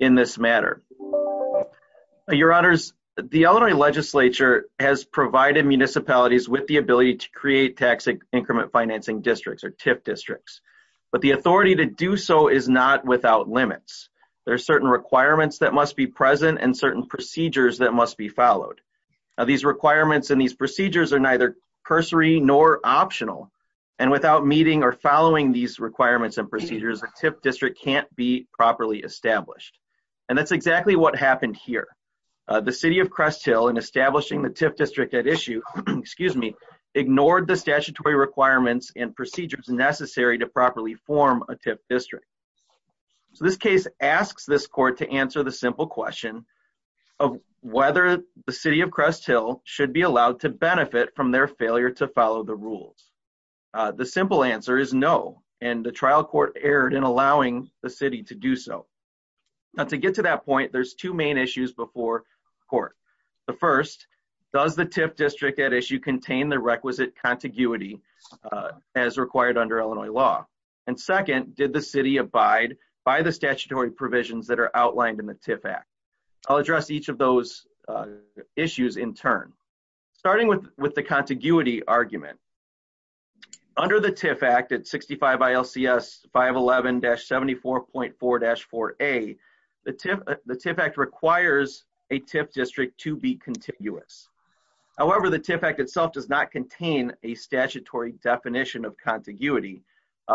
in this matter. Your honors, the Illinois legislature has provided municipalities with the ability to create tax increment financing districts or TIF districts, but the authority to do so is not without limits. There are certain requirements that must be present and certain procedures that must be followed. These requirements and these procedures are neither cursory nor optional, and without meeting or following these requirements and that's exactly what happened here. The City of Crest Hill, in establishing the TIF district at issue, ignored the statutory requirements and procedures necessary to properly form a TIF district. So this case asks this court to answer the simple question of whether the City of Crest Hill should be allowed to benefit from their failure to follow the rules. The simple answer is no, and the trial court erred in allowing the City to do so. Now to get to that point, there's two main issues before court. The first, does the TIF district at issue contain the requisite contiguity as required under Illinois law? And second, did the City abide by the statutory provisions that are outlined in the TIF Act? I'll address each of those issues in turn. Starting with the contiguity argument, under the TIF Act at 65 ILCS 511-74.4-4a, the TIF Act requires a TIF district to be contiguous. However, the TIF Act itself does not contain a statutory definition of contiguity,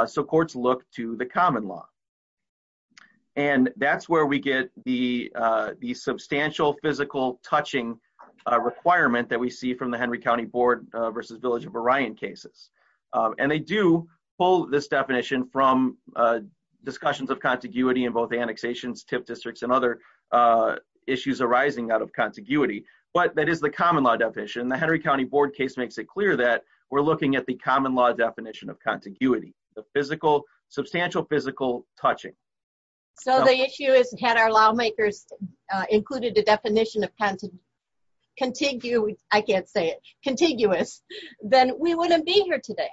so courts look to the common law. And that's where we get the substantial physical touching requirement that we see from the Henry County Board versus Village of Orion cases. And they do pull this definition from discussions of contiguity in both annexations, TIF districts, and other issues arising out of contiguity. But that is the common law definition. The Henry County Board case makes it clear that we're looking at the common law definition of contiguity, the physical, substantial physical touching. So the issue is had our lawmakers included the definition of contiguous, I can't say it, contiguous, then we wouldn't be here today.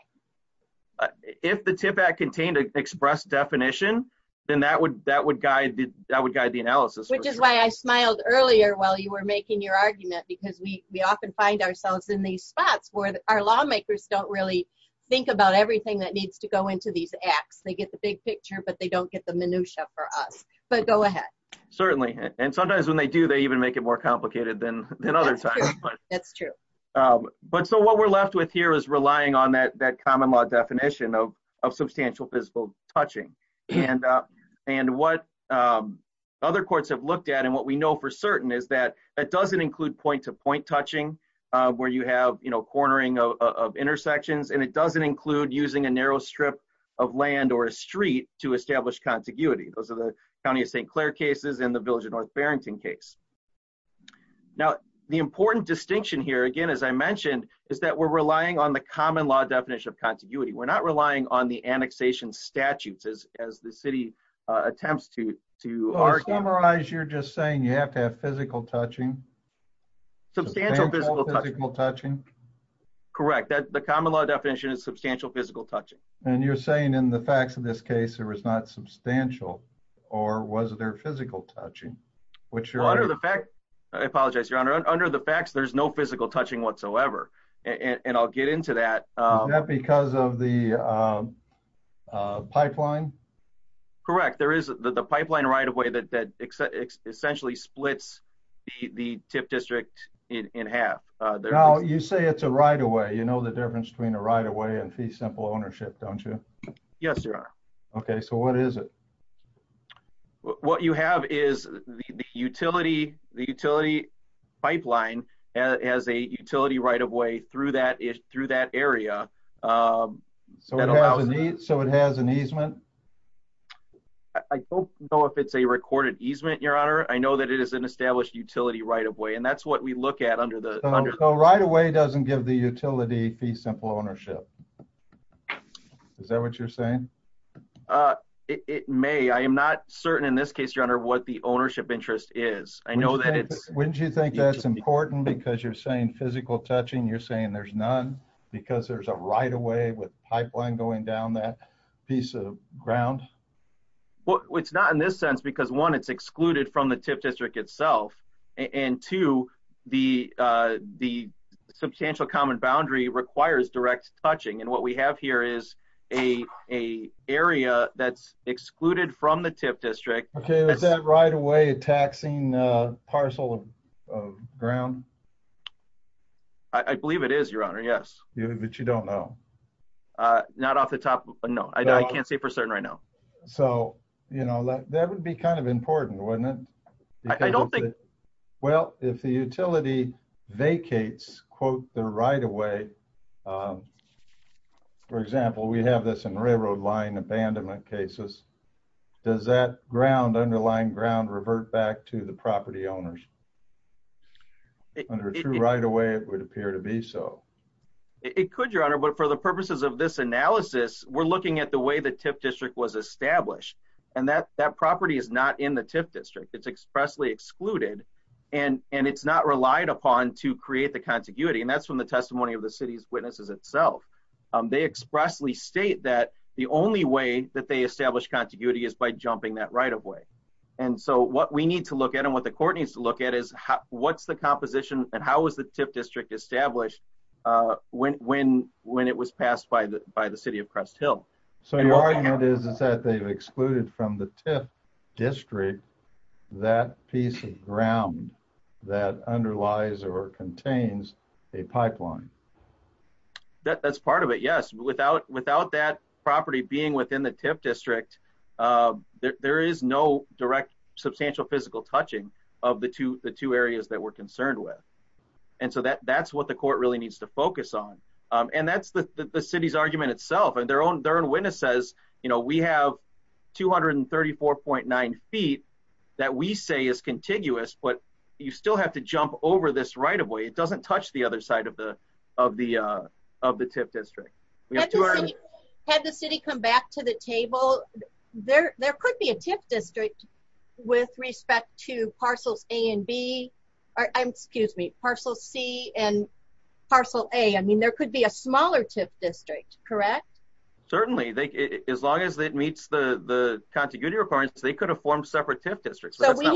If the TIF Act contained an express definition, then that would guide the analysis. Which is why I smiled earlier while you were making your argument because we often find ourselves in these spots where our lawmakers don't really think about everything that needs to go into these acts. They get the big picture, but they don't get the minutia for us. But go ahead. Certainly. And sometimes when they do, they even make it more complicated than other times. That's true. But so what we're left with here is relying on that common law definition of substantial physical touching. And what other courts have looked at and what we know for certain is that it doesn't include point-to-point touching where you have cornering of intersections, and it doesn't include using a narrow strip of land or a street to establish contiguity. Those are the County of St. Clair cases and the Village of North Barrington case. Now, the important distinction here, again, as I mentioned, is that we're relying on the common law definition of contiguity. We're not relying on the annexation statutes as the city attempts to argue. You're just saying you have to have physical touching? Substantial physical touching. Correct. The common law definition is substantial physical touching. And you're saying in the facts of this case, it was not substantial or was there physical touching? I apologize, Your Honor. Under the facts, there's no physical touching whatsoever. And I'll get into that. Is that because of the pipeline? Correct. There is the pipeline right-of-way that essentially splits the tip district in half. You say it's a right-of-way. You know the difference between a right-of-way and fee simple ownership, don't you? Yes, Your Honor. Okay. So what is it? What you have is the utility pipeline has a utility right-of-way through that area. So it has an easement? I don't know if it's a recorded easement, Your Honor. I know that it is an established utility right-of-way. And that's what we look at under the... So right-of-way doesn't give the utility fee simple ownership? Is that what you're saying? It may. I am not certain in this case, Your Honor, what the ownership interest is. I know that it's... Wouldn't you think that's important because you're saying physical touching, you're saying there's none because there's a right-of-way with pipeline going down that piece of ground? It's not in this sense because one, it's excluded from the TIF district itself. And two, the substantial common boundary requires direct touching. And what we have here is a area that's excluded from the TIF district. Okay. Is that right-of-way a taxing parcel of ground? I believe it is, Your Honor. Yes. But you don't know? Not off the top. No, I can't say for certain right now. So, you know, that would be kind of important, wouldn't it? I don't think... Well, if the utility vacates, quote, the right-of-way, for example, we have this in railroad line abandonment cases, does that ground, underlying ground, revert back to the property owners? Under a true right-of-way, it would appear to be so. It could, Your Honor. But for the purposes of this analysis, we're looking at the way the TIF district was established. And that property is not in the TIF district. It's expressly excluded. And it's not relied upon to create the contiguity. And that's from the testimony of the city's witnesses itself. They expressly state that the only way that they establish contiguity is by jumping that right-of-way. And so what we need to look at and what the court needs to look at is what's the composition and how is the TIF district established when it was passed by the city of Crest Hill? So your argument is that they've excluded from the TIF district that piece of ground that underlies or contains a pipeline? That's part of it, yes. Without that property being within the TIF district, there is no direct substantial physical touching of the two areas that we're concerned with. And so that's what the court really needs to focus on. And that's the city's argument itself. And their own witness says, you know, we have 234.9 feet that we say is contiguous, but you still have to jump over this right-of-way. It doesn't touch the other side of the TIF district. Had the city come back to the table, there could be a TIF district with respect to parcels A and B. I'm excuse me, parcel C and parcel A. I mean, there could be a smaller TIF district, correct? Certainly, as long as it meets the contiguity requirements, they could have formed separate TIF districts. So we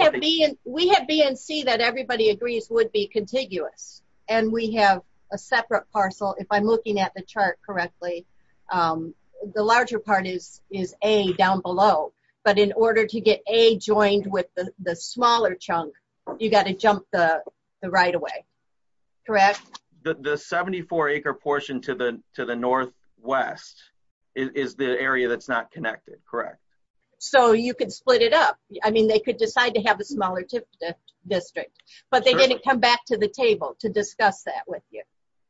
have B and C that everybody agrees would be contiguous. And we have a separate parcel. If I'm looking at the chart correctly, the larger part is A down below. But in order to get A joined with the smaller chunk, you got to jump the right-of-way, correct? The 74-acre portion to the northwest is the area that's not connected, correct? So you could split it up. I mean, they could decide to have a smaller TIF district, but they didn't come back to the table to discuss that with you.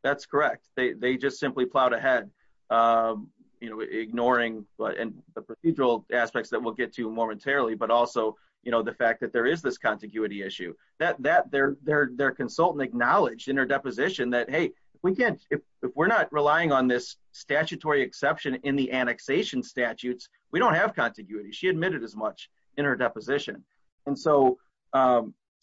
That's correct. They just simply plowed ahead, you know, ignoring the procedural aspects that we'll get to momentarily. But also, you know, the fact that there is this contiguity issue, that their consultant acknowledged in her deposition that, hey, if we're not relying on this statutory exception in the annexation statutes, we don't have contiguity. She admitted as much in her deposition. And so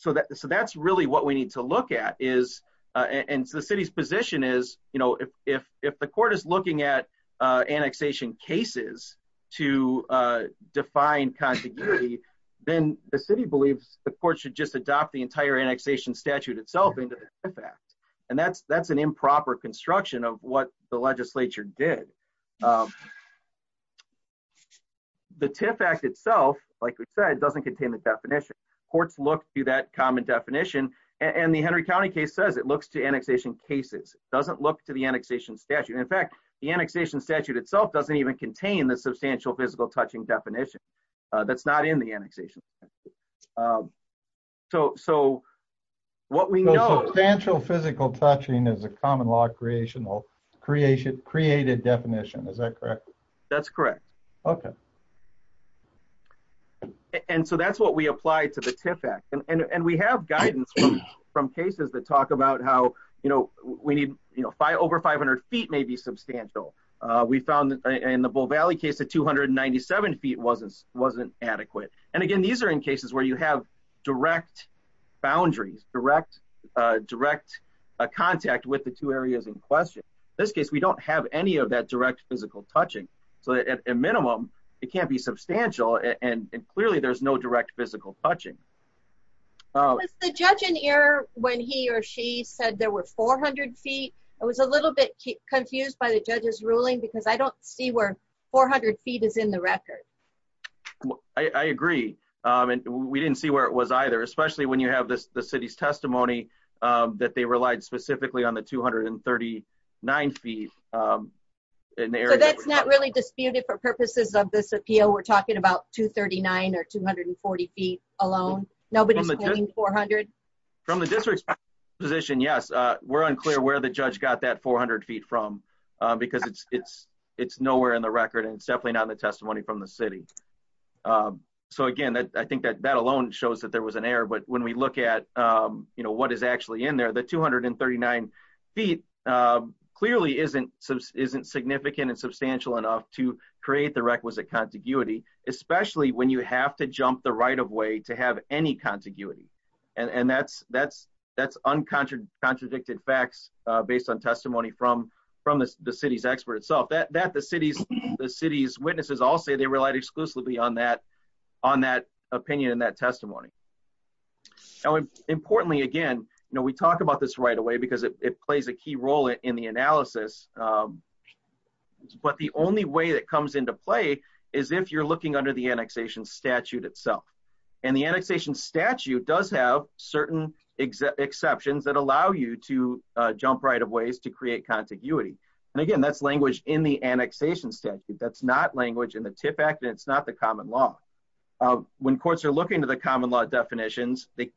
that's really what we need to look at is, and the city's position is, you know, if the court is looking at annexation cases to define contiguity, then the city believes the court should just adopt the entire annexation statute itself into the TIF Act. And that's an improper construction of what the legislature did. The TIF Act itself, like we said, doesn't contain the definition. Courts look to that common definition. And the Henry County case says it looks to annexation cases. It doesn't look to the annexation statute. In fact, the annexation statute itself doesn't even contain the substantial physical touching definition that's not in the annexation. So what we know- So substantial physical touching is a common law created definition. Is that correct? That's correct. Okay. And so that's what we applied to the TIF Act. And we have guidance from cases that talk about how, you know, over 500 feet may be substantial. We found in the Bull Valley case, the 297 feet wasn't adequate. And again, these are in cases where you have direct boundaries, direct contact with the two areas in question. This case, we don't have any of that direct physical touching. So at a minimum, it can't be substantial. And clearly there's no direct physical touching. Was the judge in error when he or she said there were 400 feet? I was a little bit confused by the judge's ruling because I don't see where 400 feet is in the record. I agree. And we didn't see where it was either, especially when you have the city's testimony that they relied specifically on the 239 feet in the area. So that's not really disputed for purposes of this appeal. We're talking about 239 or 240 feet alone. Nobody's claiming 400. From the district's position, yes. We're unclear where the judge got that 400 feet from because it's nowhere in the record and it's definitely not in the testimony from the city. So again, I think that alone shows that there was an error. But when we look at what is actually in there, the 239 feet clearly isn't significant and substantial enough to create the requisite contiguity, especially when you have to jump the right of way to have any contiguity. And that's uncontradicted facts based on testimony from the city's expert itself. That the city's witnesses all say they relied exclusively on that opinion and that testimony. Now, importantly, again, we talk about this right away because it plays a key role in the analysis. But the only way that comes into play is if you're looking under the annexation statute itself. And the annexation statute does have certain exceptions that allow you to jump right of ways to create contiguity. And again, that's language in the annexation statute. That's not language in the TIF Act and it's not the common law. When courts are looking to the common law definitions, they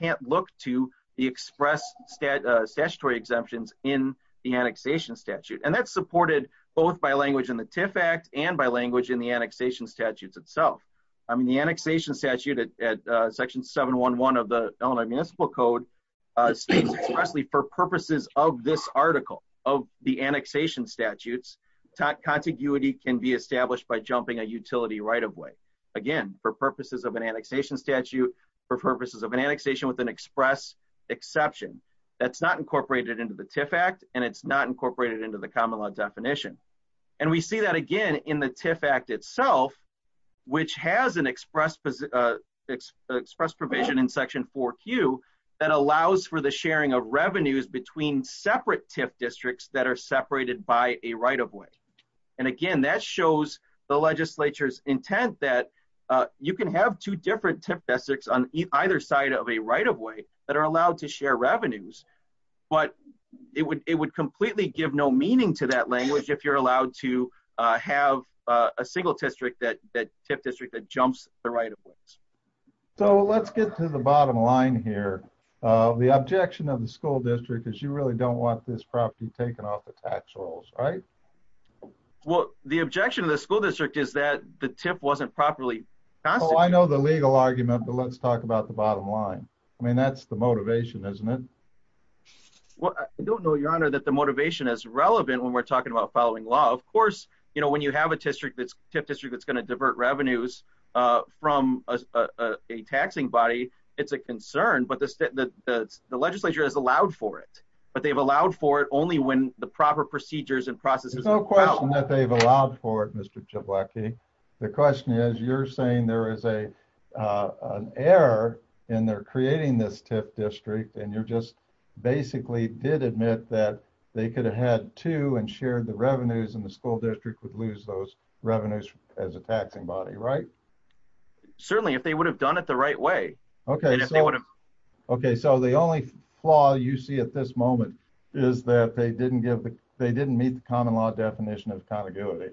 can't look to the express statutory exemptions in the annexation statute. And that's supported both by language in the TIF Act and by language in the annexation statutes itself. I mean, the annexation statute at section 711 of the Illinois Municipal Code states expressly for purposes of this article, of the annexation statutes, contiguity can be established by jumping a utility right of way. Again, for purposes of an annexation statute, for purposes of an annexation with an express exception. That's not incorporated into the TIF Act and it's not incorporated into the common law definition. And we see that again in the TIF Act itself, which has an express provision in section 4Q that allows for the sharing of revenues between separate TIF districts that are separated by a right of way. And again, that shows the legislature's intent that you can have two different TIF districts on either side of a right of way that are allowed to share revenues. But it would completely give no meaning to that language if you're allowed to have a single district that TIF district that jumps the right of ways. So let's get to the bottom line here. The objection of the school district is you really don't want this property taken off the tax rolls, right? Well, the objection of the school district is that the TIF wasn't properly constituted. Oh, I know the legal argument, but let's talk about the bottom line. I mean, that's the motivation, isn't it? Well, I don't know, your honor, that the motivation is relevant when we're talking about following law. Of course, when you have a TIF district that's gonna divert revenues from a taxing body, it's a concern, but the legislature has allowed for it. But they've allowed for it only when the proper procedures and processes- There's no question that they've allowed for it, Mr. Jablokie. The question is you're saying there is an error in their creating this TIF district and you're just basically did admit that they could have had two and shared the revenues and the school district would lose those revenues as a taxing body, right? Certainly, if they would have done it the right way. Okay, so the only flaw you see at this moment is that they didn't meet the common law definition of contiguity.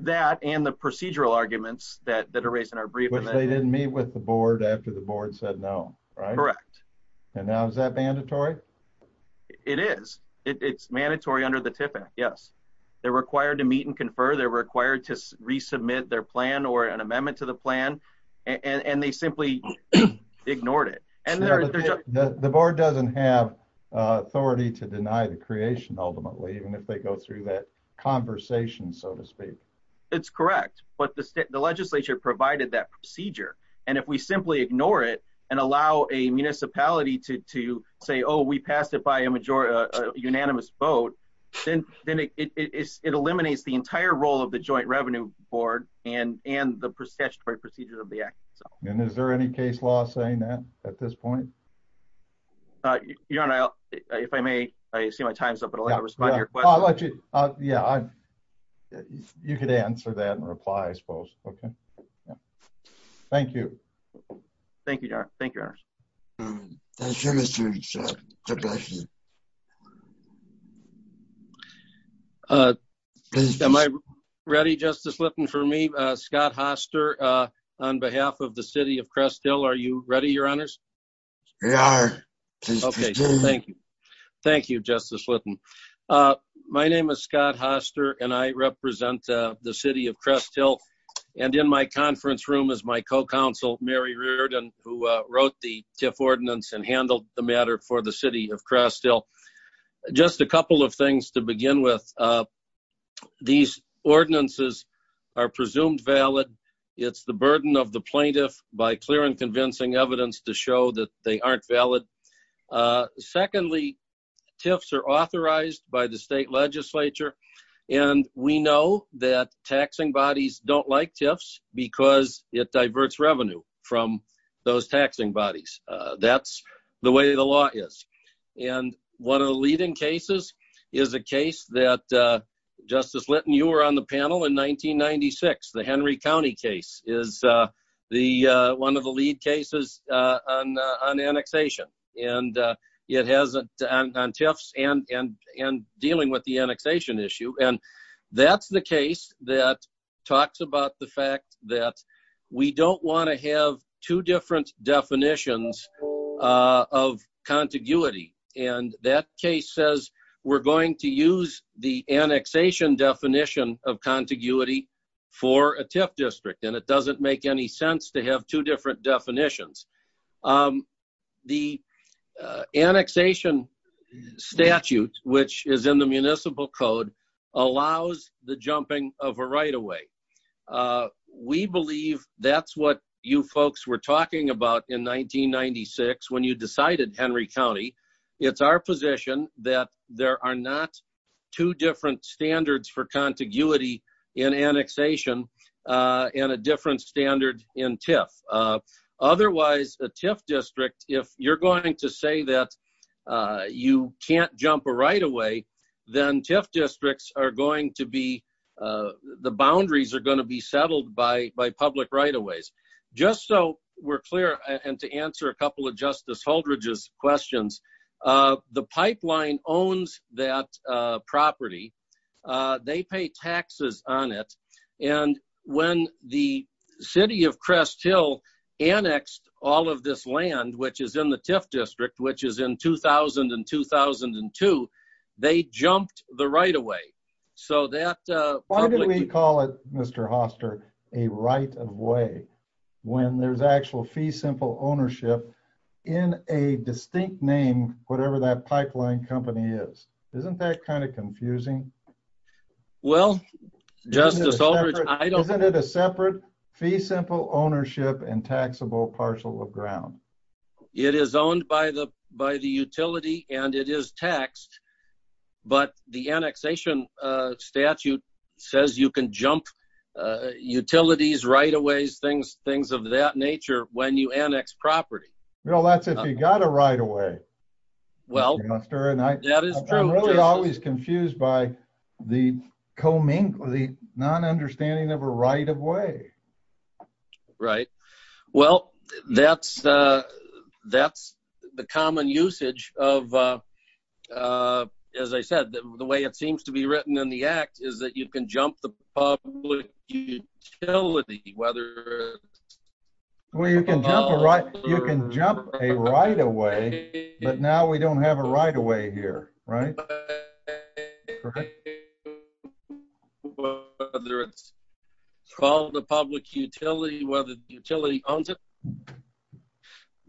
That and the procedural arguments that are raised in our briefing- Which they didn't meet with the board after the board said no, right? Correct. And now is that mandatory? It is, it's mandatory under the TIF Act, yes. They're required to meet and confer, they're required to resubmit their plan or an amendment to the plan and they simply ignored it. The board doesn't have authority to deny the creation ultimately, even if they go through that conversation, so to speak. It's correct, but the legislature provided that procedure and if we simply ignore it and allow a municipality to say, oh, we passed it by a unanimous vote, then it eliminates the entire role of the Joint Revenue Board and the statutory procedure of the act. And is there any case law saying that at this point? Your Honor, if I may, I see my time's up, but I'll have to respond to your question. I'll let you, yeah, you could answer that and reply, I suppose, okay, yeah. Thank you. Thank you, Your Honor, thank you, Your Honor. Thank you, Mr. Richard, God bless you. Am I ready, Justice Litton, for me? Scott Hoster, on behalf of the city of Crest Hill, are you ready, Your Honors? We are, please proceed. Okay, thank you. Thank you, Justice Litton. My name is Scott Hoster and I represent the city of Crest Hill and in my conference room is my co-counsel, Mary Reardon, who wrote the TIF ordinance and handled the matter for the city of Crest Hill. Just a couple of things to begin with. These ordinances are presumed valid. It's the burden of the plaintiff by clear and convincing evidence to show that they aren't valid. Secondly, TIFs are authorized by the state legislature and we know that taxing bodies don't like TIFs because it diverts revenue from those taxing bodies. That's the way the law is. And one of the leading cases is a case that, Justice Litton, you were on the panel in 1996, the Henry County case is one of the lead cases on annexation and it has on TIFs and dealing with the annexation issue. And that's the case that talks about the fact that we don't want to have two different definitions of contiguity. And that case says we're going to use the annexation definition of contiguity for a TIF district and it doesn't make any sense to have two different definitions. The annexation statute, which is in the municipal code, allows the jumping of a right-of-way. We believe that's what you folks were talking about in 1996 when you decided Henry County. It's our position that there are not two different standards for contiguity in annexation and a different standard in TIF. Otherwise, a TIF district, if you're going to say that you can't jump a right-of-way, then TIF districts are going to be the boundaries are going to be settled by public right-of-ways. Just so we're clear, and to answer a couple of Justice Holdridge's questions, the pipeline owns that property. They pay taxes on it. And when the city of Crest Hill annexed all of this land, which is in the TIF district, which is in 2000 and 2002, they jumped the right-of-way. So that... Why do we call it, Mr. Hoster, a right-of-way when there's actual fee simple ownership in a distinct name, whatever that pipeline company is? Isn't that kind of confusing? Well, Justice Holdridge, I don't... Isn't it a separate fee simple ownership and taxable parcel of ground? It is owned by the utility and it is taxed, but the annexation statute says you can jump utilities, right-of-ways, things of that nature when you annex property. Well, that's if you got a right-of-way, Mr. Hoster. And I'm really always confused by the non-understanding of a right-of-way. Right, well, that's the common usage of, as I said, the way it seems to be written in the act is that you can jump the public utility, whether... Well, you can jump a right-of-way, but now we don't have a right-of-way here, right? Whether it's called a public utility, whether the utility owns it,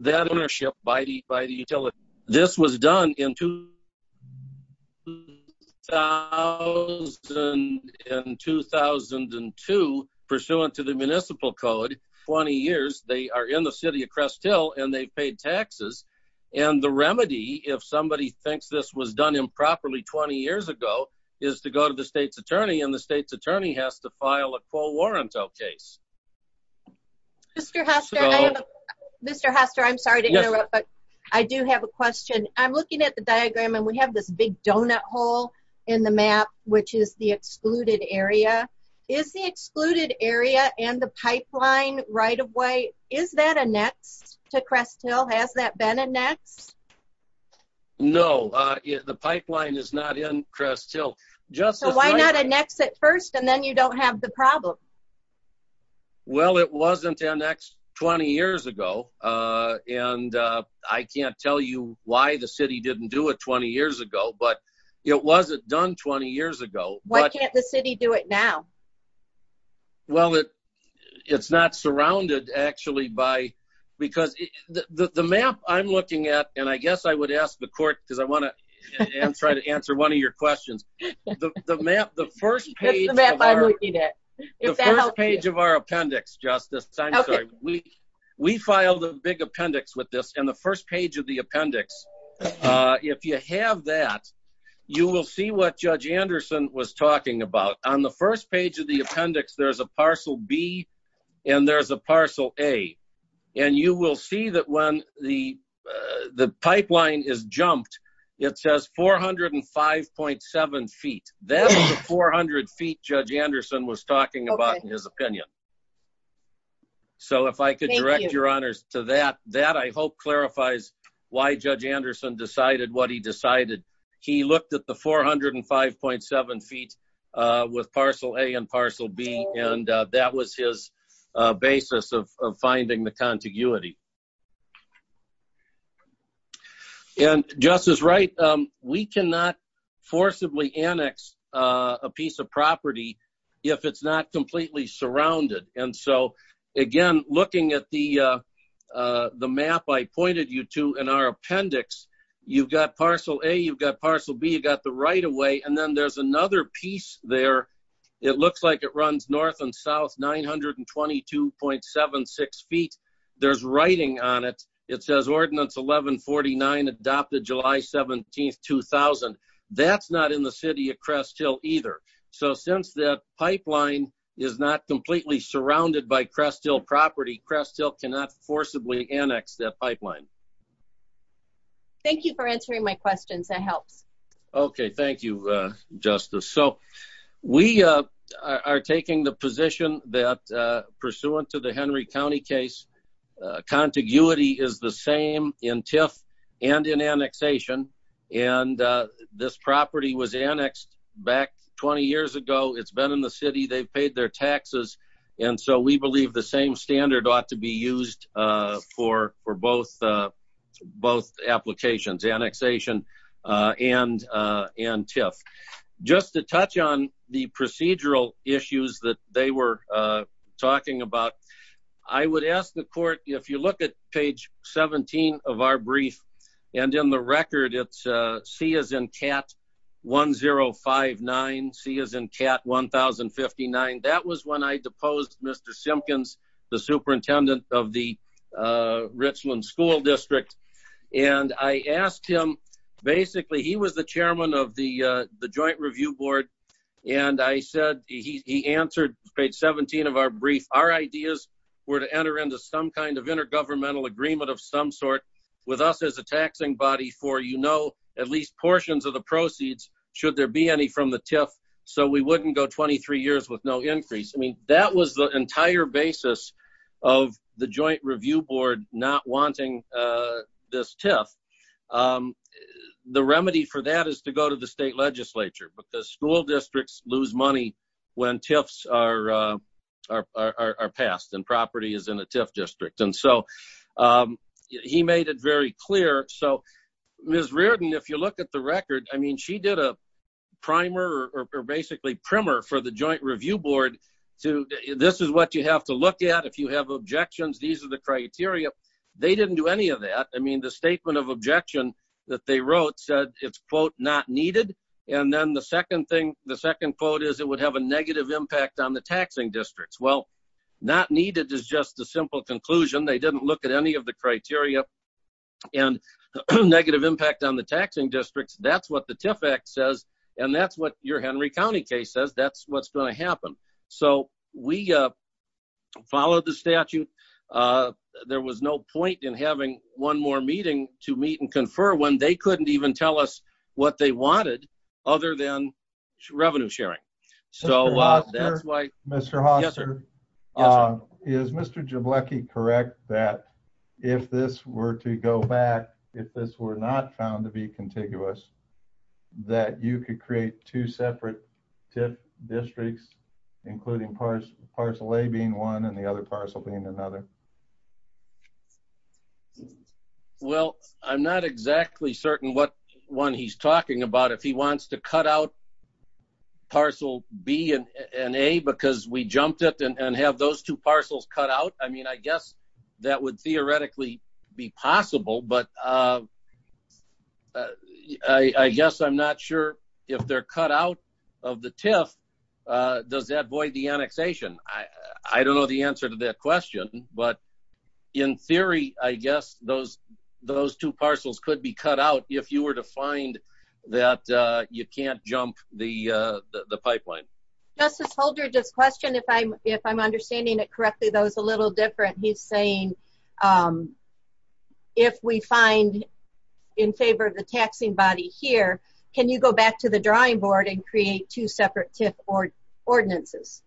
that ownership by the utility. This was done in 2000 and 2002, pursuant to the municipal code, 20 years. They are in the city of Crest Hill and they've paid taxes. And the remedy, if somebody thinks this was done improperly 20 years ago, is to go to the state's attorney and the state's attorney has to file a co-warrantor case. Mr. Hoster, I'm sorry to interrupt, but I do have a question. I'm looking at the diagram and we have this big donut hole in the map, which is the excluded area. Is the excluded area and the pipeline right-of-way, is that annexed to Crest Hill? Has that been annexed? No, the pipeline is not in Crest Hill. So why not annex it first and then you don't have the problem? Well, it wasn't annexed 20 years ago. And I can't tell you why the city didn't do it 20 years ago, but it wasn't done 20 years ago. Why can't the city do it now? Well, it's not surrounded actually by... Because the map I'm looking at, and I guess I would ask the court because I want to try to answer one of your questions. The map, the first page of our appendix, Justice, we filed a big appendix with this and the first page of the appendix, if you have that, you will see what Judge Anderson was talking about. On the first page of the appendix, there's a parcel B and there's a parcel A. And you will see that when the pipeline is jumped, it says 405.7 feet. That's the 400 feet Judge Anderson was talking about in his opinion. So if I could direct your honors to that, that I hope clarifies why Judge Anderson decided what he decided. He looked at the 405.7 feet with parcel A and parcel B, and that was his basis of finding the contiguity. And Justice Wright, we cannot forcibly annex a piece of property if it's not completely surrounded. And so again, looking at the map I pointed you to in our appendix, you've got parcel A, you've got parcel B, you've got the right of way. And then there's another piece there. It looks like it runs north and south 922.76 feet. There's writing on it. It says ordinance 1149 adopted July 17th, 2000. That's not in the city of Crest Hill either. So since that pipeline is not completely surrounded by Crest Hill property, Crest Hill cannot forcibly annex that pipeline. Thank you for answering my questions, that helps. Okay, thank you, Justice. So we are taking the position that pursuant to the Henry County case, contiguity is the same in TIF and in annexation. And this property was annexed back 20 years ago. It's been in the city, they've paid their taxes. And so we believe the same standard ought to be used for both applications, annexation and TIF. Just to touch on the procedural issues that they were talking about. I would ask the court, if you look at page 17 of our brief and in the record it's C as in cat 1059, C as in cat 1059. That was when I deposed Mr. Simpkins, the superintendent of the Richland School District. And I asked him, basically he was the chairman of the joint review board. And I said, he answered page 17 of our brief. Our ideas were to enter into some kind of intergovernmental agreement of some sort with us as a taxing body for at least portions of the proceeds, should there be any from the TIF. So we wouldn't go 23 years with no increase. I mean, that was the entire basis of the joint review board not wanting this TIF. The remedy for that is to go to the state legislature, but the school districts lose money when TIFs are passed and property is in a TIF district. And so he made it very clear. So Ms. Reardon, if you look at the record, I mean, she did a primer or basically primer for the joint review board to, this is what you have to look at. If you have objections, these are the criteria. They didn't do any of that. I mean, the statement of objection that they wrote said, it's quote, not needed. And then the second thing, the second quote is it would have a negative impact on the taxing districts. Well, not needed is just a simple conclusion. They didn't look at any of the criteria and negative impact on the taxing districts. That's what the TIF Act says. And that's what your Henry County case says. That's what's gonna happen. So we followed the statute. There was no point in having one more meeting to meet and confer when they couldn't even tell us what they wanted other than revenue sharing. So that's why- Mr. Hofstra, is Mr. Jablecki correct that if this were to go back, if this were not found to be contiguous, that you could create two separate TIF districts, including parcel A being one and the other parcel being another? Well, I'm not exactly certain what one he's talking about. If he wants to cut out parcel B and A because we jumped it and have those two parcels cut out, I mean, I guess that would theoretically be possible, but I guess I'm not sure if they're cut out of the TIF, does that void the annexation? I don't know the answer to that question, but in theory, I guess those two parcels could be cut out if you were to find that you can't jump the pipeline. Justice Holder, this question, if I'm understanding it correctly, that was a little different. He's saying if we find in favor of the taxing body here, can you go back to the drawing board and create two separate TIF ordinances?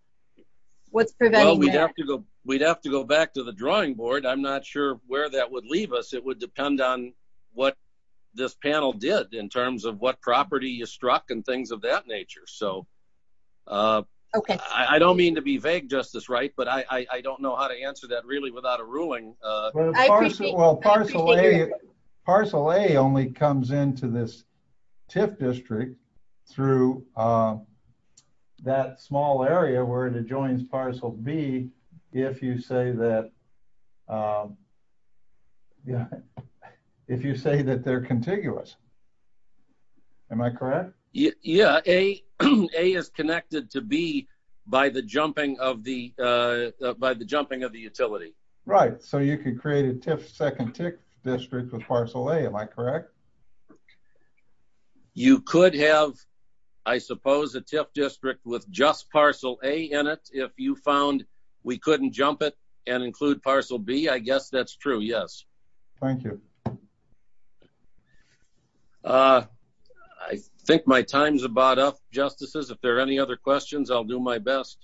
What's preventing that? Well, we'd have to go back to the drawing board. I'm not sure where that would leave us. It would depend on what this panel did in terms of what property you struck and things of that nature. So I don't mean to be vague, Justice Wright, but I don't know how to answer that really without a ruling. I appreciate it. Well, parcel A only comes into this TIF district through that small area where it adjoins parcel B if you say that they're contiguous. Am I correct? Yeah, A is connected to B by the jumping of the utility. Right, so you could create a TIF second TIF district with parcel A, am I correct? You could have, I suppose, a TIF district with just parcel A in it if you found we couldn't jump it and include parcel B. I guess that's true, yes. Thank you. I think my time's about up, Justices. If there are any other questions, I'll do my best.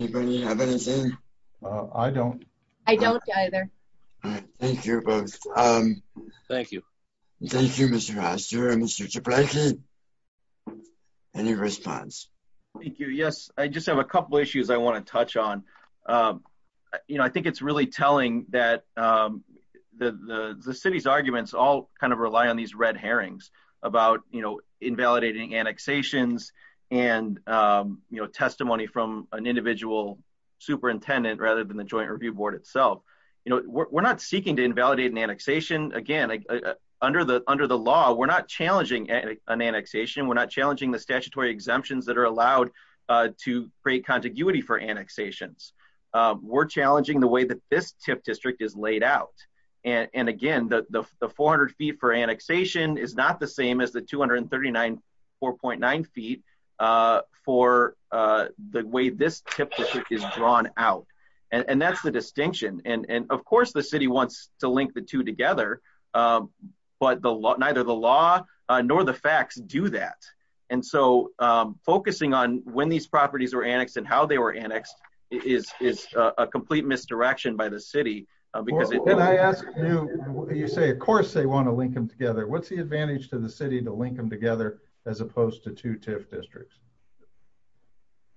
Anybody have anything? I don't. I don't either. Thank you both. Thank you. Thank you, Mr. Foster and Mr. Ciaplacci. Any response? Thank you, yes. I just have a couple issues I want to touch on. I think it's really telling that the city's arguments all kind of rely on these red herrings about invalidating annexations and testimony from an individual superintendent rather than the joint review board itself. We're not seeking to invalidate an annexation. Again, under the law, we're not challenging an annexation. We're not challenging the statutory exemptions that are allowed to create contiguity for annexations. We're challenging the way that this tip district is laid out. And again, the 400 feet for annexation is not the same as the 239, 4.9 feet for the way this tip district is drawn out. And that's the distinction. And of course, the city wants to link the two together, but neither the law nor the facts do that. And so focusing on when these properties were annexed and how they were annexed is a complete misdirection by the city because- When I ask you, you say, of course they want to link them together. What's the advantage to the city to link them together as opposed to two tip districts?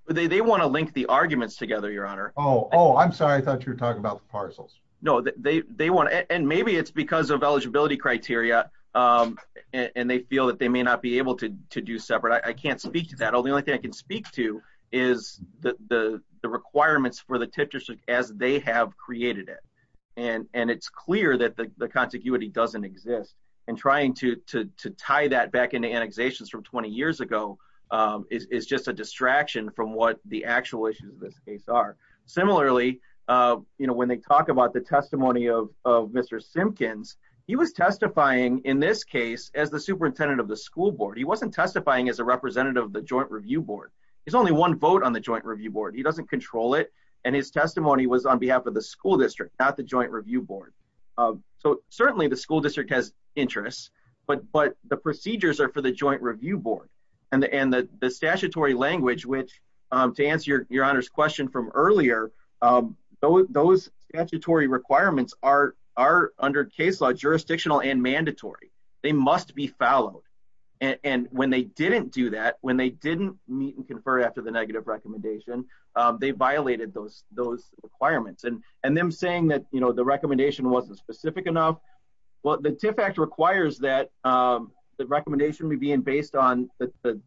They want to link the arguments together, your honor. Oh, I'm sorry. I thought you were talking about the parcels. No, they want to. And maybe it's because of eligibility criteria and they feel that they may not be able to do separate. I can't speak to that. The only thing I can speak to is the requirements for the tip district as they have created it. And it's clear that the contiguity doesn't exist. And trying to tie that back into annexations from 20 years ago is just a distraction from what the actual issues of this case are. Similarly, when they talk about the testimony of Mr. Simpkins, he was testifying in this case as the superintendent of the school board. He wasn't testifying as a representative of the joint review board. There's only one vote on the joint review board. He doesn't control it. And his testimony was on behalf of the school district, not the joint review board. So certainly the school district has interests, but the procedures are for the joint review board and the statutory language, which to answer your honor's question from earlier, those statutory requirements are under case law, jurisdictional and mandatory. They must be followed. And when they didn't do that, when they didn't meet and confer after the negative recommendation, they violated those requirements. And them saying that the recommendation wasn't specific enough. Well, the TIF Act requires that the recommendation would be based on the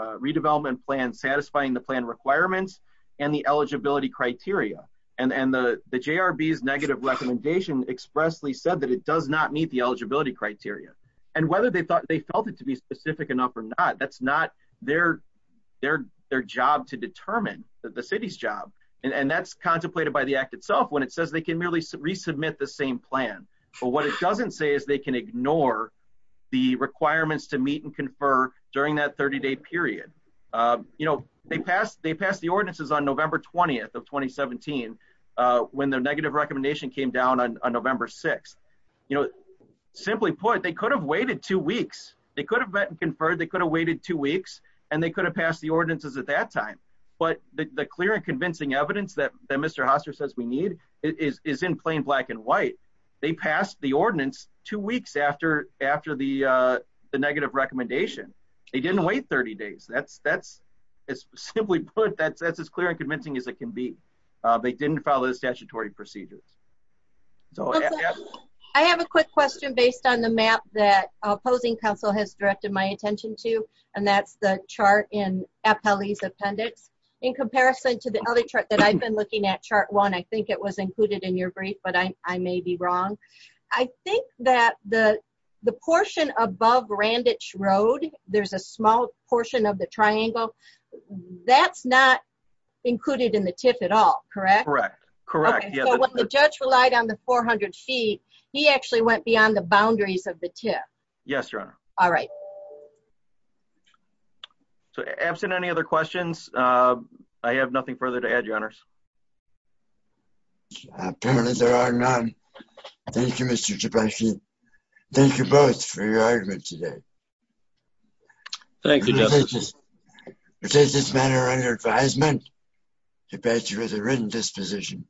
redevelopment plan, satisfying the plan requirements and the eligibility criteria. And the JRB's negative recommendation expressly said that it does not meet the eligibility criteria and whether they felt it to be specific enough or not, that's not their job to determine the city's job. And that's contemplated by the act itself when it says they can merely resubmit the same plan. But what it doesn't say is they can ignore the requirements to meet and confer during that 30 day period. You know, they passed the ordinances on November 20th of 2017, when the negative recommendation came down on November 6th. You know, simply put, they could have waited two weeks. They could have met and conferred. They could have waited two weeks and they could have passed the ordinances at that time. But the clear and convincing evidence that Mr. Hoster says we need is in plain black and white. They passed the ordinance two weeks after the negative recommendation. They didn't wait 30 days. That's, simply put, that's as clear and convincing as it can be. They didn't follow the statutory procedures. So, yeah. I have a quick question based on the map that opposing council has directed my attention to. And that's the chart in Appellee's Appendix. In comparison to the other chart that I've been looking at, chart one, I think it was included in your brief, but I may be wrong. I think that the portion above Randitch Road, there's a small portion of the triangle. That's not included in the TIF at all, correct? Correct, correct. So, when the judge relied on the 400 feet, he actually went beyond the boundaries of the TIF. Yes, Your Honor. All right. So, absent any other questions, I have nothing further to add, Your Honors. Apparently, there are none. Thank you, Mr. Trespassi. Thank you both for your argument today. Thank you, Justice. It takes this manner of your advisement to badge with a written disposition.